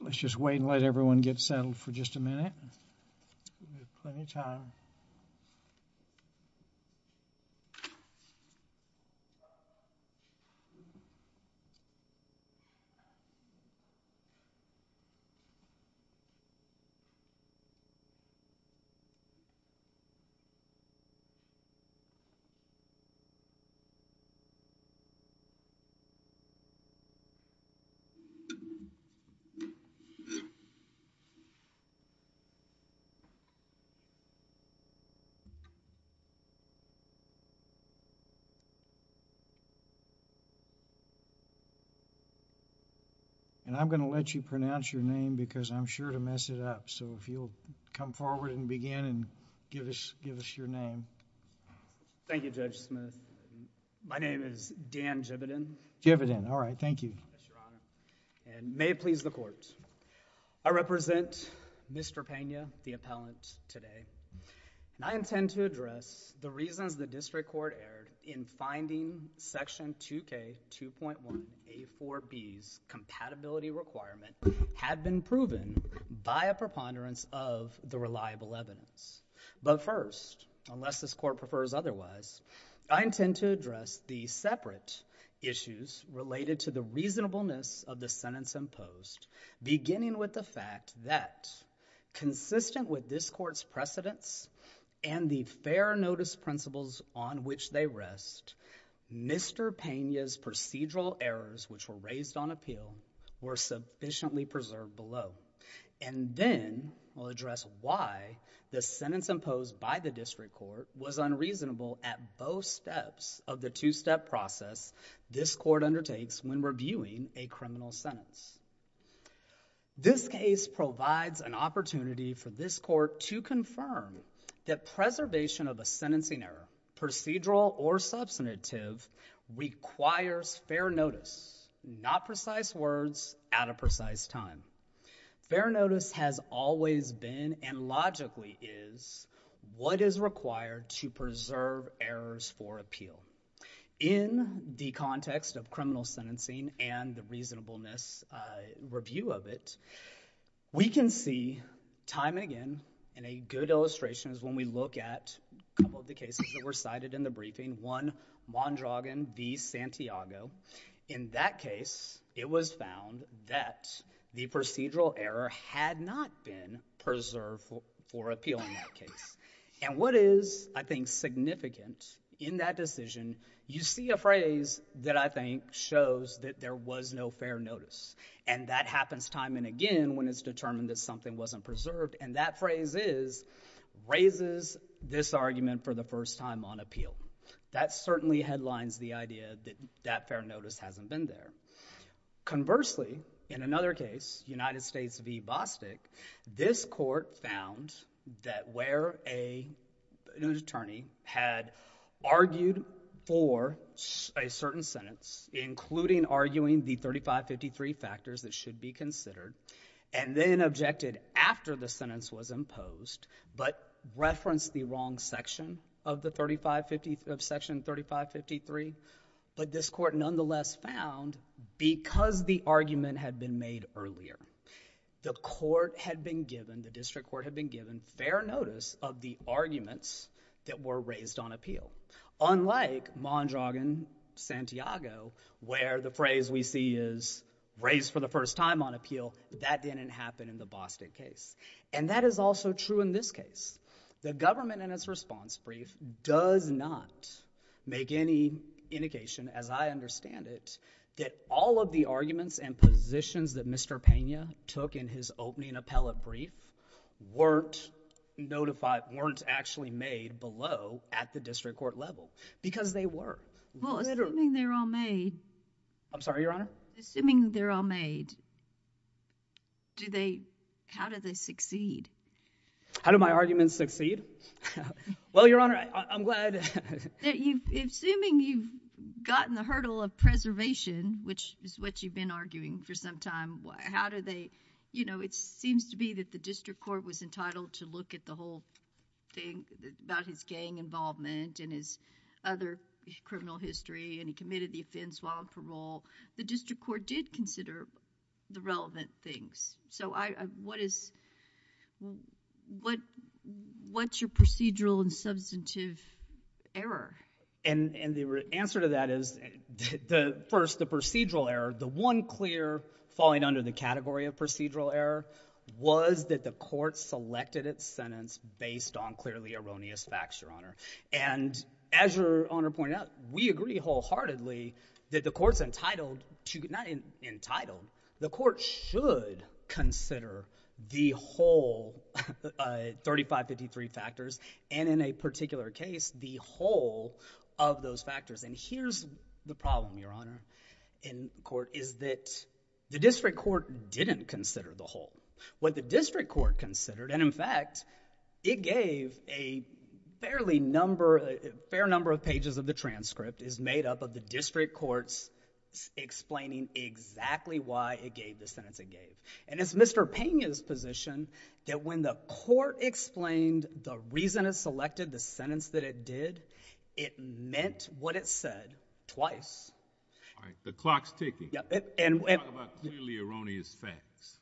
Let's just wait and let everyone get settled for just a minute, plenty of time. Okay. Okay. And I'm going to let you pronounce your name because I'm sure to mess it up. So if you'll come forward and begin and give us your name. Thank you, Judge Smith. My name is Dan Jividen. Jividen. All right. Thank you. Yes, Your Honor. And may it please the Court. I represent Mr. Pena, the appellant, today, and I intend to address the reasons the District Court erred in finding Section 2K2.1A4B's compatibility requirement had been proven by a preponderance of the reliable evidence. But first, unless this Court prefers otherwise, I intend to address the separate issues related to the reasonableness of the sentence imposed, beginning with the fact that, consistent with this Court's precedents and the fair notice principles on which they rest, Mr. Pena's procedural errors, which were raised on appeal, were sufficiently preserved below. And then, I'll address why the sentence imposed by the District Court was unreasonable at both steps of the two-step process this Court undertakes when reviewing a criminal sentence. This case provides an opportunity for this Court to confirm that preservation of a sentencing error, procedural or substantive, requires fair notice, not precise words at a precise time. Fair notice has always been, and logically is, what is required to preserve errors for appeal. In the context of criminal sentencing and the reasonableness review of it, we can see, time and again, and a good illustration is when we look at a couple of the cases that were cited in the briefing, one, Mondragon v. Santiago. In that case, it was found that the procedural error had not been preserved for appeal in that case. And what is, I think, significant in that decision, you see a phrase that I think shows that there was no fair notice. And that happens time and again when it's determined that something wasn't preserved, and that phrase is, raises this argument for the first time on appeal. That certainly headlines the idea that that fair notice hasn't been there. Conversely, in another case, United States v. Bostic, this Court found that where a, an attorney had argued for a certain sentence, including arguing the 3553 factors that should be considered, and then objected after the sentence was imposed, but referenced the wrong section of the 3550, of section 3553, but this Court nonetheless found, because the argument had been made earlier, the Court had been given, the District Court had been given fair notice of the arguments that were raised on appeal. Unlike Mondragon v. Santiago, where the phrase we see is, raised for the first time on appeal, that didn't happen in the Bostic case. And that is also true in this case. The government in its response brief does not make any indication, as I understand it, that all of the arguments and positions that Mr. Pena took in his opening appellate brief weren't notified, weren't actually made below at the District Court level. Because they were. Literally. Well, assuming they're all made. I'm sorry, Your Honor? Assuming they're all made, do they, how do they succeed? How do my arguments succeed? Well, Your Honor, I'm glad. Assuming you've gotten the hurdle of preservation, which is what you've been arguing for some time, how do they, you know, it seems to be that the District Court was entitled to look at the whole thing about his gang involvement and his other criminal history, and he committed the offense while on parole. The District Court did consider the relevant things. So what is, what's your procedural and substantive error? And the answer to that is, first, the procedural error, the one clear falling under the category of procedural error was that the court selected its sentence based on clearly erroneous facts, Your Honor. And as Your Honor pointed out, we agree wholeheartedly that the court's entitled to, not entitled, the court should consider the whole, uh, 3553 factors, and in a particular case, the whole of those factors. And here's the problem, Your Honor, in court, is that the District Court didn't consider the whole. What the District Court considered, and in fact, it gave a fairly number, a fair number of pages of the transcript, is made up of the District Court's explaining exactly why it gave the sentence it gave. And it's Mr. Pena's position that when the court explained the reason it selected the sentence that it did, it meant what it said twice. All right. The clock's ticking. Yeah. And, and. Talk about clearly erroneous facts.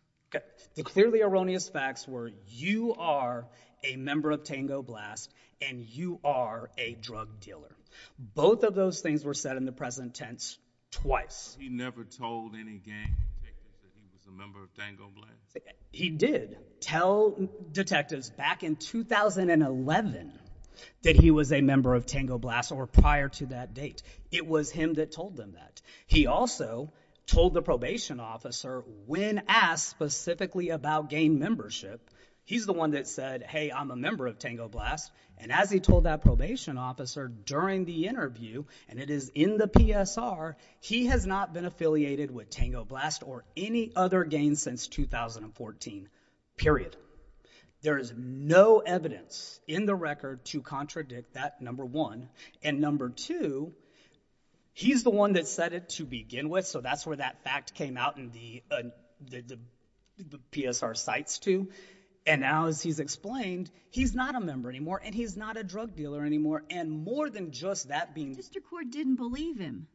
The clearly erroneous facts were you are a member of Tango Blast and you are a drug dealer. Both of those things were said in the present tense twice. He never told any gang detectives that he was a member of Tango Blast? He did tell detectives back in 2011 that he was a member of Tango Blast or prior to that date. It was him that told them that. He also told the probation officer when asked specifically about gang membership, he's the one that said, hey, I'm a member of Tango Blast. And as he told that probation officer during the interview, and it is in the PSR, he has not been affiliated with Tango Blast or any other gang since 2014, period. There is no evidence in the record to contradict that, number one. And number two, he's the one that said it to begin with. So that's where that fact came out in the, uh, the, the PSR cites too. And now as he's explained, he's not a member anymore and he's not a drug dealer anymore. And more than just that being. District court didn't believe him.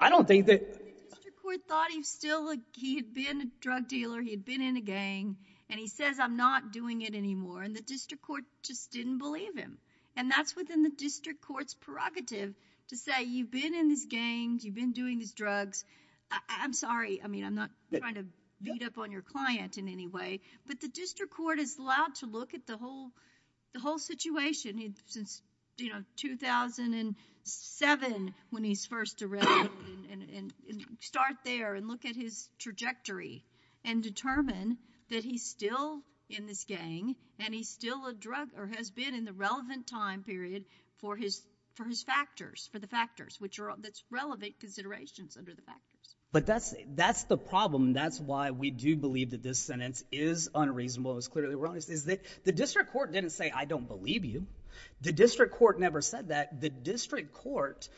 I don't think that. The district court thought he was still a, he had been a drug dealer, he had been in a gang and he says, I'm not doing it anymore. And the district court just didn't believe him. And that's within the district court's prerogative to say, you've been in this gang, you've been doing these drugs. I'm sorry. I mean, I'm not trying to beat up on your client in any way, but the district court is allowed to look at the whole, the whole situation since, you know, 2007 when he's first arrested and start there and look at his trajectory and determine that he's still in this gang and he's still a drug or has been in the relevant time period for his, for his factors, for the factors, which are, that's relevant considerations under the factors. But that's, that's the problem. That's why we do believe that this sentence is unreasonable as clearly wrong is that the district court didn't say, I don't believe you. The district court never said that the district court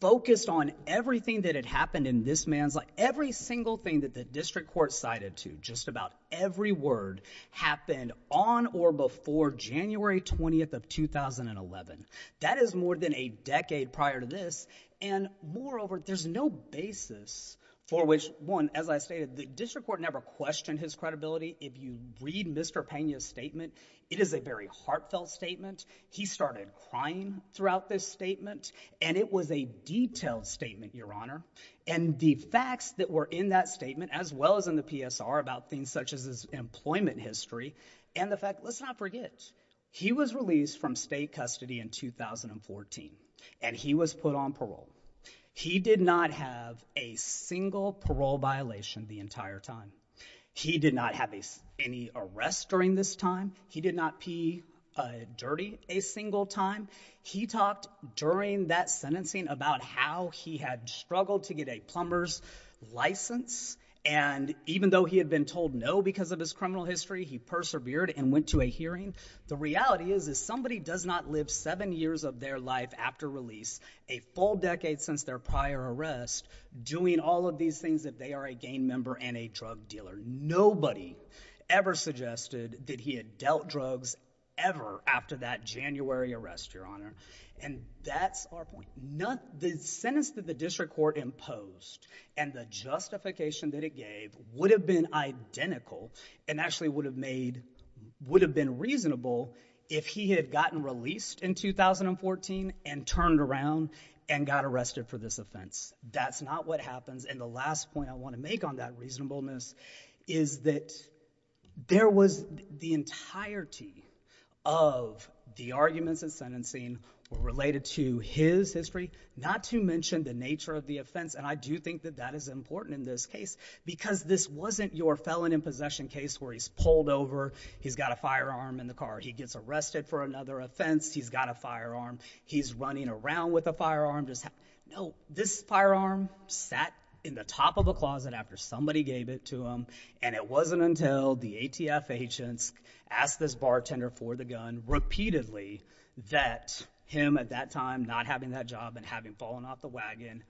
focused on everything that had happened in this man's life. Every single thing that the district court cited to just about every word happened on or before January 20th of 2011 that is more than a decade prior to this. And moreover, there's no basis for which one, as I stated, the district court never questioned his credibility. If you read Mr. Pena's statement, it is a very heartfelt statement. He started crying throughout this statement and it was a detailed statement, your honor, and the facts that were in that statement as well as in the PSR about things such as his employment history and the fact, let's not forget, he was released from state custody in 2014 and he was put on parole. He did not have a single parole violation the entire time. He did not have any arrests during this time. He did not pee dirty a single time. He talked during that sentencing about how he had struggled to get a plumber's license and even though he had been told no because of his criminal history, he persevered and went to a hearing. The reality is, is somebody does not live seven years of their life after release, a full decade since their prior arrest, doing all of these things if they are a gang member and a drug dealer. Nobody ever suggested that he had dealt drugs ever after that January arrest, your honor, and that's our point. The sentence that the district court imposed and the justification that it gave would have been identical and actually would have made, would have been reasonable if he had gotten released in 2014 and turned around and got arrested for this offense. That's not what happens and the last point I want to make on that reasonableness is that there was the entirety of the arguments in sentencing were related to his history, not to mention the nature of the offense and I do think that that is important in this case because this wasn't your felon in possession case where he's pulled over, he's got a firearm in the car, he gets arrested for another offense, he's got a firearm, he's running around with a firearm. No, this firearm sat in the top of a closet after somebody gave it to him and it wasn't until the ATF agents asked this bartender for the gun repeatedly that him, at that time, not having that job and having fallen off the wagon,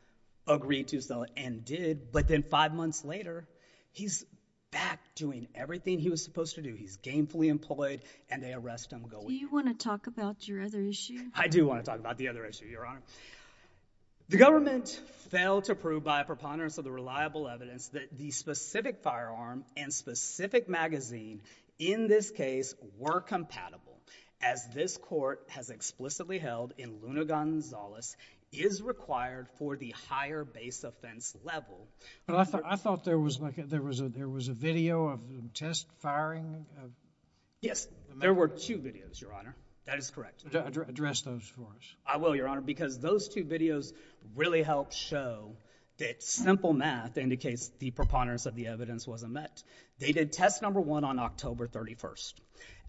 agreed to sell it and did, but then five months later, he's back doing everything he was supposed to do. He's gainfully employed and they arrest him. Do you want to talk about your other issue? I do want to talk about the other issue, Your Honor. The government failed to prove by a preponderance of the reliable evidence that the specific firearm and specific magazine in this case were compatible as this court has explicitly held in Luna Gonzales is required for the higher base offense level. I thought there was a video of the test firing? Yes, there were two videos, Your Honor, that is correct. Address those for us. I will, Your Honor, because those two videos really help show that simple math indicates the preponderance of the evidence wasn't met. They did test number one on October 31st.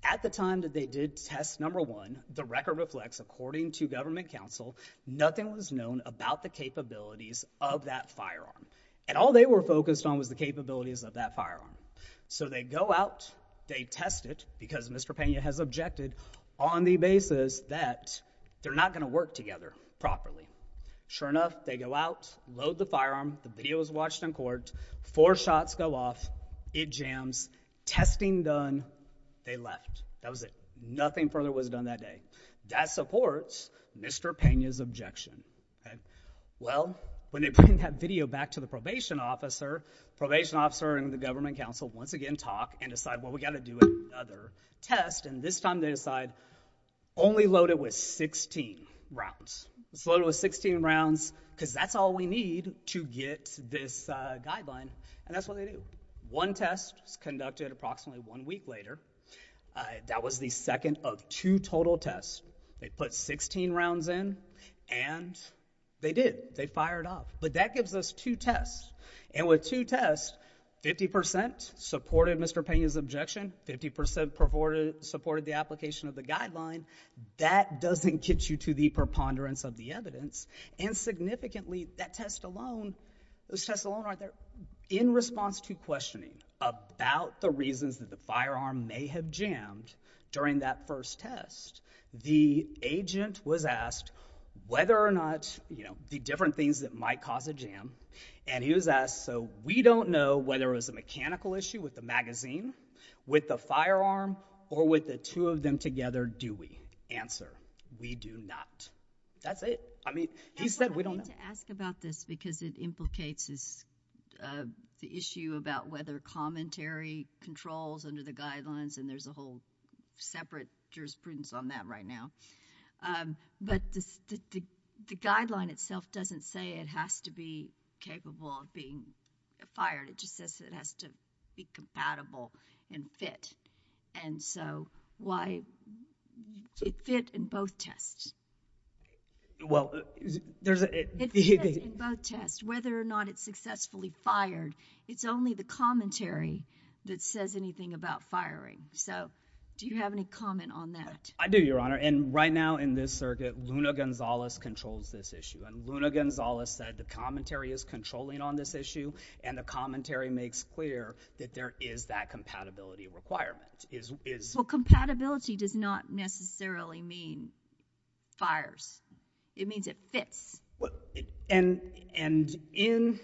At the time that they did test number one, the record reflects, according to government counsel, nothing was known about the capabilities of that firearm and all they were focused on was the capabilities of that firearm. So they go out, they test it, because Mr. Pena has objected on the basis that they're not going to work together properly. Sure enough, they go out, load the firearm, the video is watched in court, four shots go off, it jams, testing done, they left. That was it. Nothing further was done that day. That supports Mr. Pena's objection. Well, when they bring that video back to the probation officer, probation officer and the government counsel once again talk and decide, well, we've got to do another test, and this time they decide only load it with 16 rounds. It's loaded with 16 rounds because that's all we need to get this guideline, and that's what they do. One test is conducted approximately one week later. That was the second of two total tests. They put 16 rounds in and they did. They fired off. But that gives us two tests, and with two tests, 50% supported Mr. Pena's objection, 50% supported the application of the guideline. That doesn't get you to the preponderance of the evidence, and significantly, that test alone, those tests alone aren't there. In response to questioning about the reasons that the firearm may have jammed during that first test, the agent was asked whether or not, you know, the different things that might cause a jam, and he was asked, so we don't know whether it was a mechanical issue with the magazine, with the firearm, or with the two of them together, do we? Answer, we do not. That's it. I mean, he said we don't know. I wanted to ask about this because it implicates the issue about whether commentary controls under the guidelines, and there's a whole separate jurisprudence on that right now. But the guideline itself doesn't say it has to be capable of being fired. It just says it has to be compatible and fit. And so, why, it fit in both tests. Well, there's a... It fits in both tests, whether or not it's successfully fired, it's only the commentary that says anything about firing. So, do you have any comment on that? I do, Your Honor. And right now, in this circuit, Luna Gonzales controls this issue, and Luna Gonzales said the commentary is controlling on this issue, and the commentary makes clear that there is that compatibility requirement. It means it fits. And in,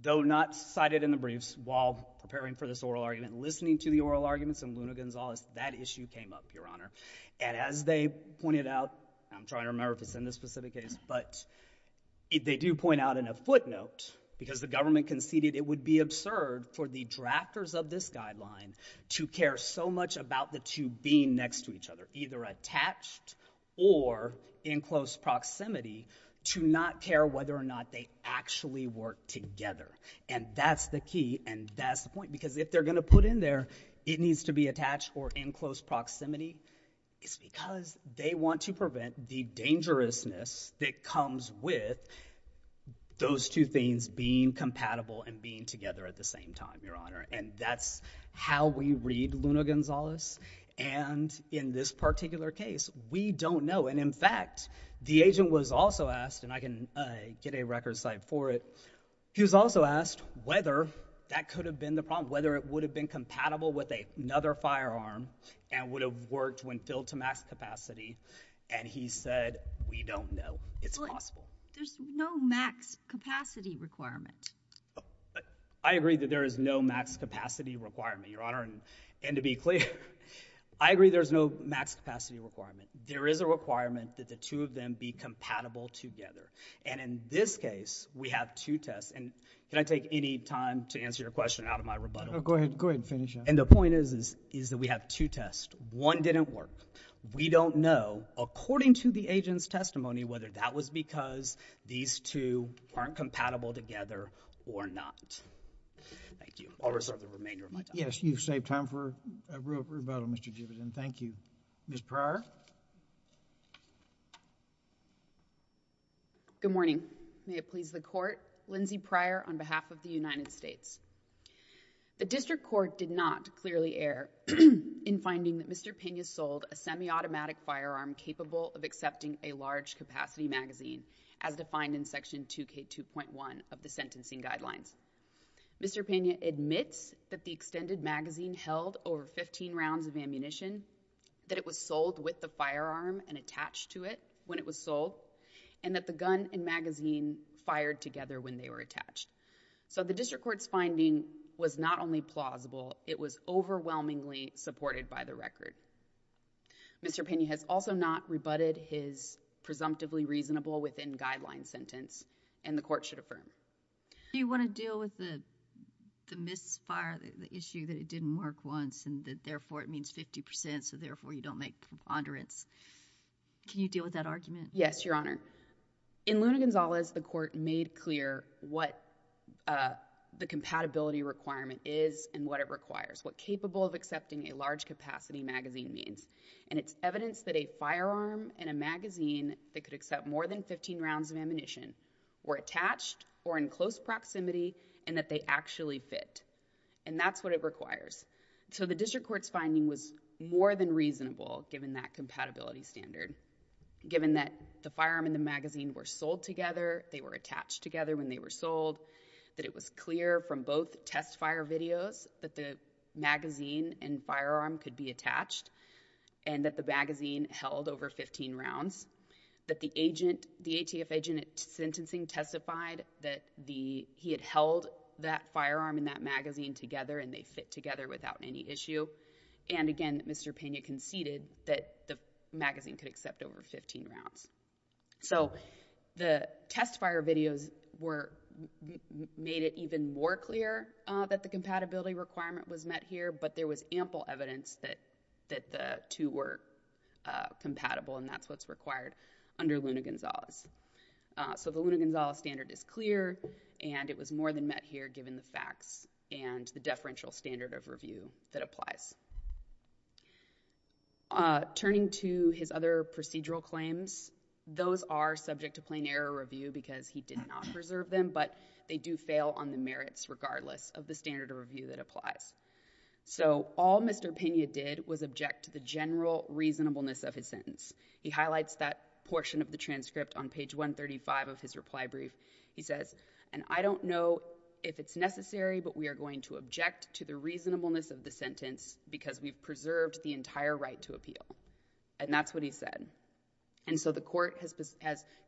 though not cited in the briefs, while preparing for this oral argument, listening to the oral arguments, and Luna Gonzales, that issue came up, Your Honor. And as they pointed out, I'm trying to remember if it's in this specific case, but they do point out in a footnote, because the government conceded it would be absurd for the drafters of this guideline to care so much about the two being next to each other, either attached or in close proximity, to not care whether or not they actually work together. And that's the key, and that's the point, because if they're going to put in there it needs to be attached or in close proximity, it's because they want to prevent the dangerousness that comes with those two things being compatible and being together at the same time, Your Honor. And that's how we read Luna Gonzales. And in this particular case, we don't know. And in fact, the agent was also asked, and I can get a record cite for it, he was also asked whether that could have been the problem, whether it would have been compatible with another firearm and would have worked when filled to max capacity, and he said, we don't know. It's possible. There's no max capacity requirement. I agree that there is no max capacity requirement, Your Honor. And to be clear, I agree there's no max capacity requirement. There is a requirement that the two of them be compatible together. And in this case, we have two tests, and can I take any time to answer your question out of my rebuttal? Oh, go ahead. Go ahead and finish up. And the point is, is that we have two tests. One didn't work. We don't know, according to the agent's testimony, whether that was because these two aren't compatible together or not. Thank you. I'll reserve the remainder of my time. Yes, you've saved time for a real rebuttal, Mr. Jivitan. Thank you. Ms. Pryor? Good morning. May it please the Court. Lindsay Pryor on behalf of the United States. The District Court did not clearly err in finding that Mr. Pena sold a semi-automatic firearm capable of accepting a large capacity magazine, as defined in Section 2K2.1 of the Sentencing Guidelines. Mr. Pena admits that the extended magazine held over 15 rounds of ammunition, that it was sold with the firearm and attached to it when it was sold, and that the gun and magazine fired together when they were attached. So the District Court's finding was not only plausible, it was overwhelmingly supported by the record. Mr. Pena has also not rebutted his presumptively reasonable within guidelines sentence, and the Court should affirm it. Do you want to deal with the misfire, the issue that it didn't work once, and that therefore it means 50%, so therefore you don't make preponderance? Can you deal with that argument? Yes, Your Honor. In Luna Gonzales, the Court made clear what the compatibility requirement is and what it requires, what capable of accepting a large capacity magazine means, and it's evidence that a firearm and a magazine that could accept more than 15 rounds of ammunition were attached or in close proximity and that they actually fit, and that's what it requires. So the District Court's finding was more than reasonable given that compatibility standard. Given that the firearm and the magazine were sold together, they were attached together when they were sold, that it was clear from both test fire videos that the magazine and firearm could be attached, and that the magazine held over 15 rounds, that the ATF agent sentencing testified that he had held that firearm and that magazine together and they fit together without any issue, and again, Mr. Pena conceded that the magazine could accept over 15 rounds. So the test fire videos made it even more clear that the compatibility requirement was met here, but there was ample evidence that the two were compatible, and that's what's required under Luna Gonzales. So the Luna Gonzales standard is clear, and it was more than met here given the facts and the deferential standard of review that applies. Turning to his other procedural claims, those are subject to plain error review because he did not preserve them, but they do fail on the merits regardless of the standard of review that applies. So all Mr. Pena did was object to the general reasonableness of his sentence. He highlights that portion of the transcript on page 135 of his reply brief. He says, and I don't know if it's necessary, but we are going to object to the reasonableness of the sentence because we preserved the entire right to appeal, and that's what he said. And so the court has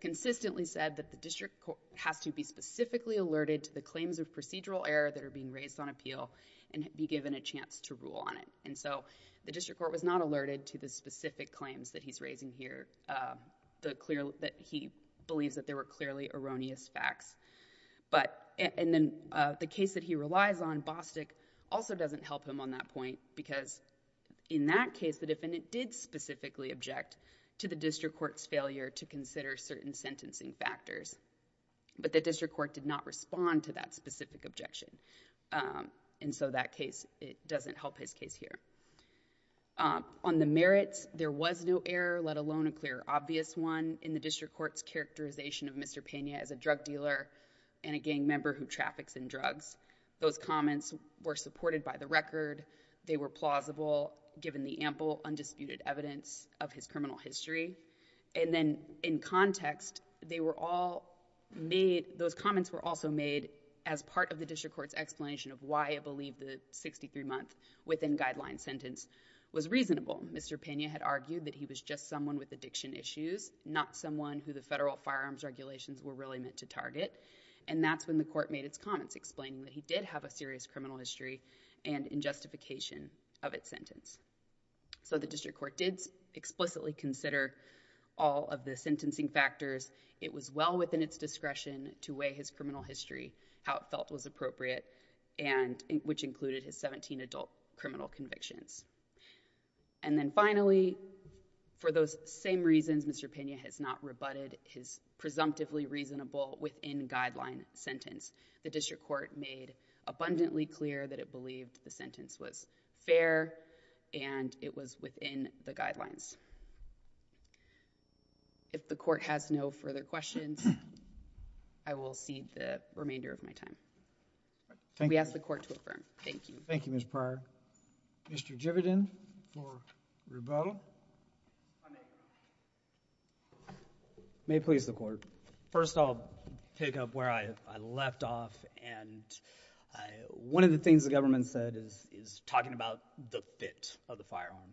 consistently said that the district court has to be specifically alerted to the claims of procedural error that are being raised on appeal and be given a chance to rule on it, and so the district court was not alerted to the specific claims that he's raising here, that he believes that there were clearly erroneous facts. And then the case that he relies on, Bostick, also doesn't help him on that point because in that case, the defendant did specifically object to the district court's failure to consider certain sentencing factors, but the district court did not respond to that specific objection, and so that case, it doesn't help his case here. On the merits, there was no error, let alone a clear obvious one, in the district court's characterization of Mr. Pena as a drug dealer and a gang member who traffics in drugs. Those comments were supported by the record. They were plausible, given the ample, undisputed evidence of his criminal history, and then in context, they were all made, those comments were also made as part of the district court's consideration of why I believe the 63-month within-guideline sentence was reasonable. Mr. Pena had argued that he was just someone with addiction issues, not someone who the federal firearms regulations were really meant to target, and that's when the court made its comments explaining that he did have a serious criminal history and in justification of its sentence. So the district court did explicitly consider all of the sentencing factors. It was well within its discretion to weigh his criminal history, how it felt was appropriate, and which included his 17 adult criminal convictions. And then finally, for those same reasons, Mr. Pena has not rebutted his presumptively reasonable within-guideline sentence. The district court made abundantly clear that it believed the sentence was fair and it was within the guidelines. If the court has no further questions, I will cede the remainder of my time. We ask the court to affirm. Thank you. Thank you, Ms. Pryor. Mr. Jividen for rebuttal. May it please the court. First, I'll pick up where I left off, and one of the things the government said is talking about the fit of the firearm,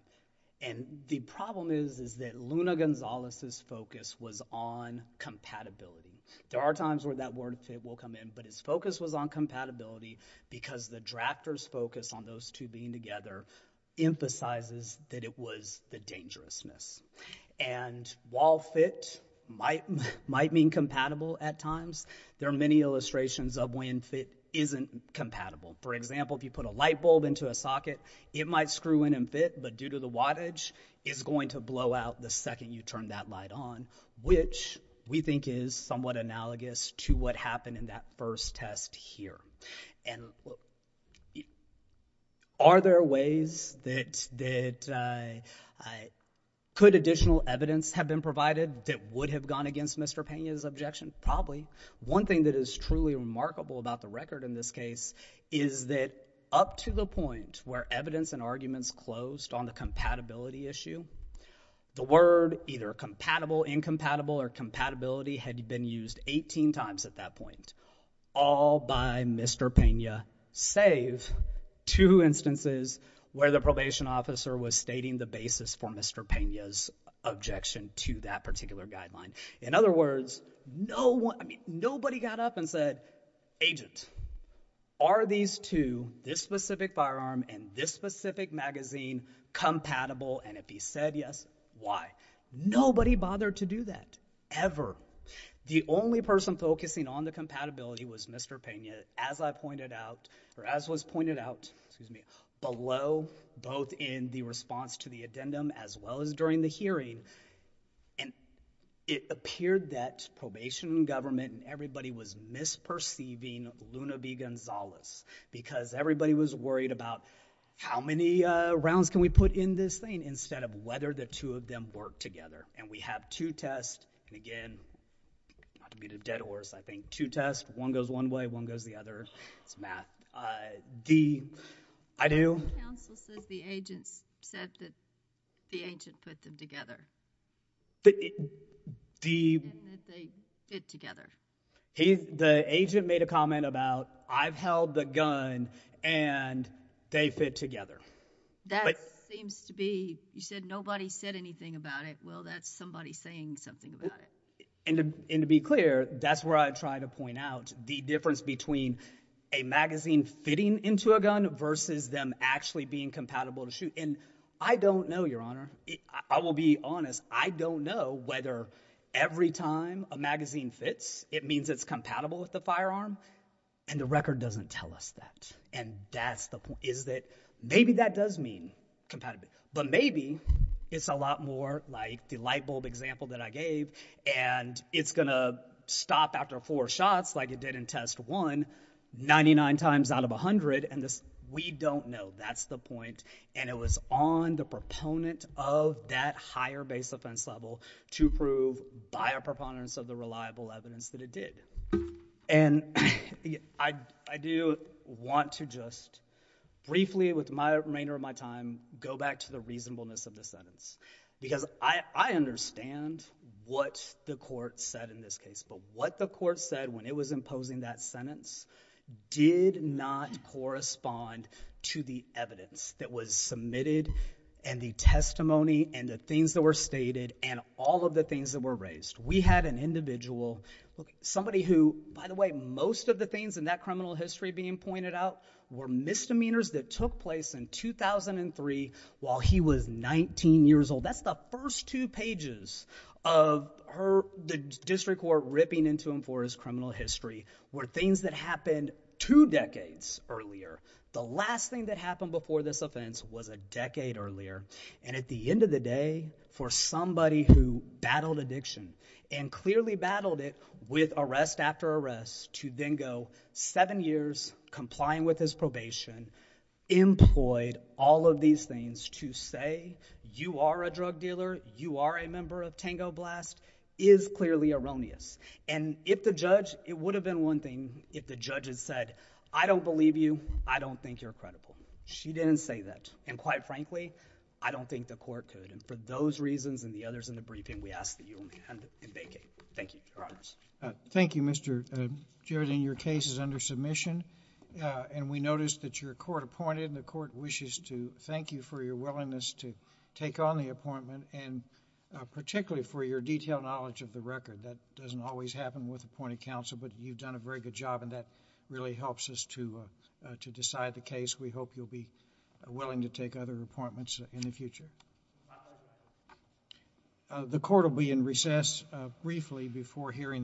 and the problem is, is that Luna Gonzalez's focus was on compatibility. There are times where that word fit will come in, but his focus was on compatibility because the drafter's focus on those two being together emphasizes that it was the dangerousness. And while fit might mean compatible at times, there are many illustrations of when fit isn't compatible. For example, if you put a light bulb into a socket, it might screw in and fit, but due to the wattage, it's going to blow out the second you turn that light on, which we think is somewhat analogous to what happened in that first test here. And are there ways that could additional evidence have been provided that would have gone against Mr. Pena's objection? Probably. One thing that is truly remarkable about the record in this case is that up to the point where evidence and arguments closed on the compatibility issue, the word either compatible, incompatible, or compatibility had been used 18 times at that point, all by Mr. Pena, save two instances where the probation officer was stating the basis for Mr. Pena's objection to that particular guideline. In other words, no one, I mean, nobody got up and said, agent, are these two, this specific firearm and this specific magazine, compatible, and if he said yes, why? Nobody bothered to do that, ever. The only person focusing on the compatibility was Mr. Pena, as I pointed out, or as was pointed out, excuse me, below both in the response to the addendum as well as during the hearing, and it appeared that probation and government and everybody was misperceiving Luna B. Gonzalez because everybody was worried about how many rounds can we put in this thing instead of whether the two of them work together, and we have two tests, and again, not to be the dead horse, I think, two tests, one goes one way, one goes the other, it's math. I do. The counsel says the agent said that the agent put them together, and that they fit together. The agent made a comment about, I've held the gun, and they fit together. That seems to be, you said nobody said anything about it, well, that's somebody saying something about it. And to be clear, that's where I try to point out the difference between a magazine fitting into a gun versus them actually being compatible to shoot, and I don't know, Your Honor, I will be honest, I don't know whether every time a magazine fits, it means it's compatible with the firearm, and the record doesn't tell us that, and that's the point, is that maybe that does mean compatible, but maybe it's a lot more like the light bulb example that I gave, and it's gonna stop after four shots like it did in test one, 99 times out of 100, and we don't know, that's the point, and it was on the proponent of that higher base offense level to prove by a proponent of the reliable evidence that it did. And I do want to just briefly, with the remainder of my time, go back to the reasonableness of the sentence, because I understand what the court said in this case, but what the court said when it was imposing that sentence did not correspond to the evidence that was stated and all of the things that were raised. We had an individual, somebody who, by the way, most of the things in that criminal history being pointed out were misdemeanors that took place in 2003 while he was 19 years old. That's the first two pages of her, the district court ripping into him for his criminal history, were things that happened two decades earlier. The last thing that happened before this offense was a decade earlier, and at the end of the day, for somebody who battled addiction and clearly battled it with arrest after arrest to then go seven years, complying with his probation, employed all of these things to say, you are a drug dealer, you are a member of Tango Blast, is clearly erroneous. And if the judge, it would have been one thing if the judge had said, I don't believe you, I don't think you're credible. She didn't say that. And quite frankly, I don't think the court could, and for those reasons and the others in the briefing, we ask that you only hand and vacate. Thank you. Your Honor. Thank you, Mr. Jarrett. And your case is under submission. And we noticed that your court appointed, and the court wishes to thank you for your willingness to take on the appointment and particularly for your detailed knowledge of the record. That doesn't always happen with appointed counsel, but you've done a very good job and that really helps us to decide the case. We hope you'll be willing to take other appointments in the future. The court will be in recess briefly before hearing.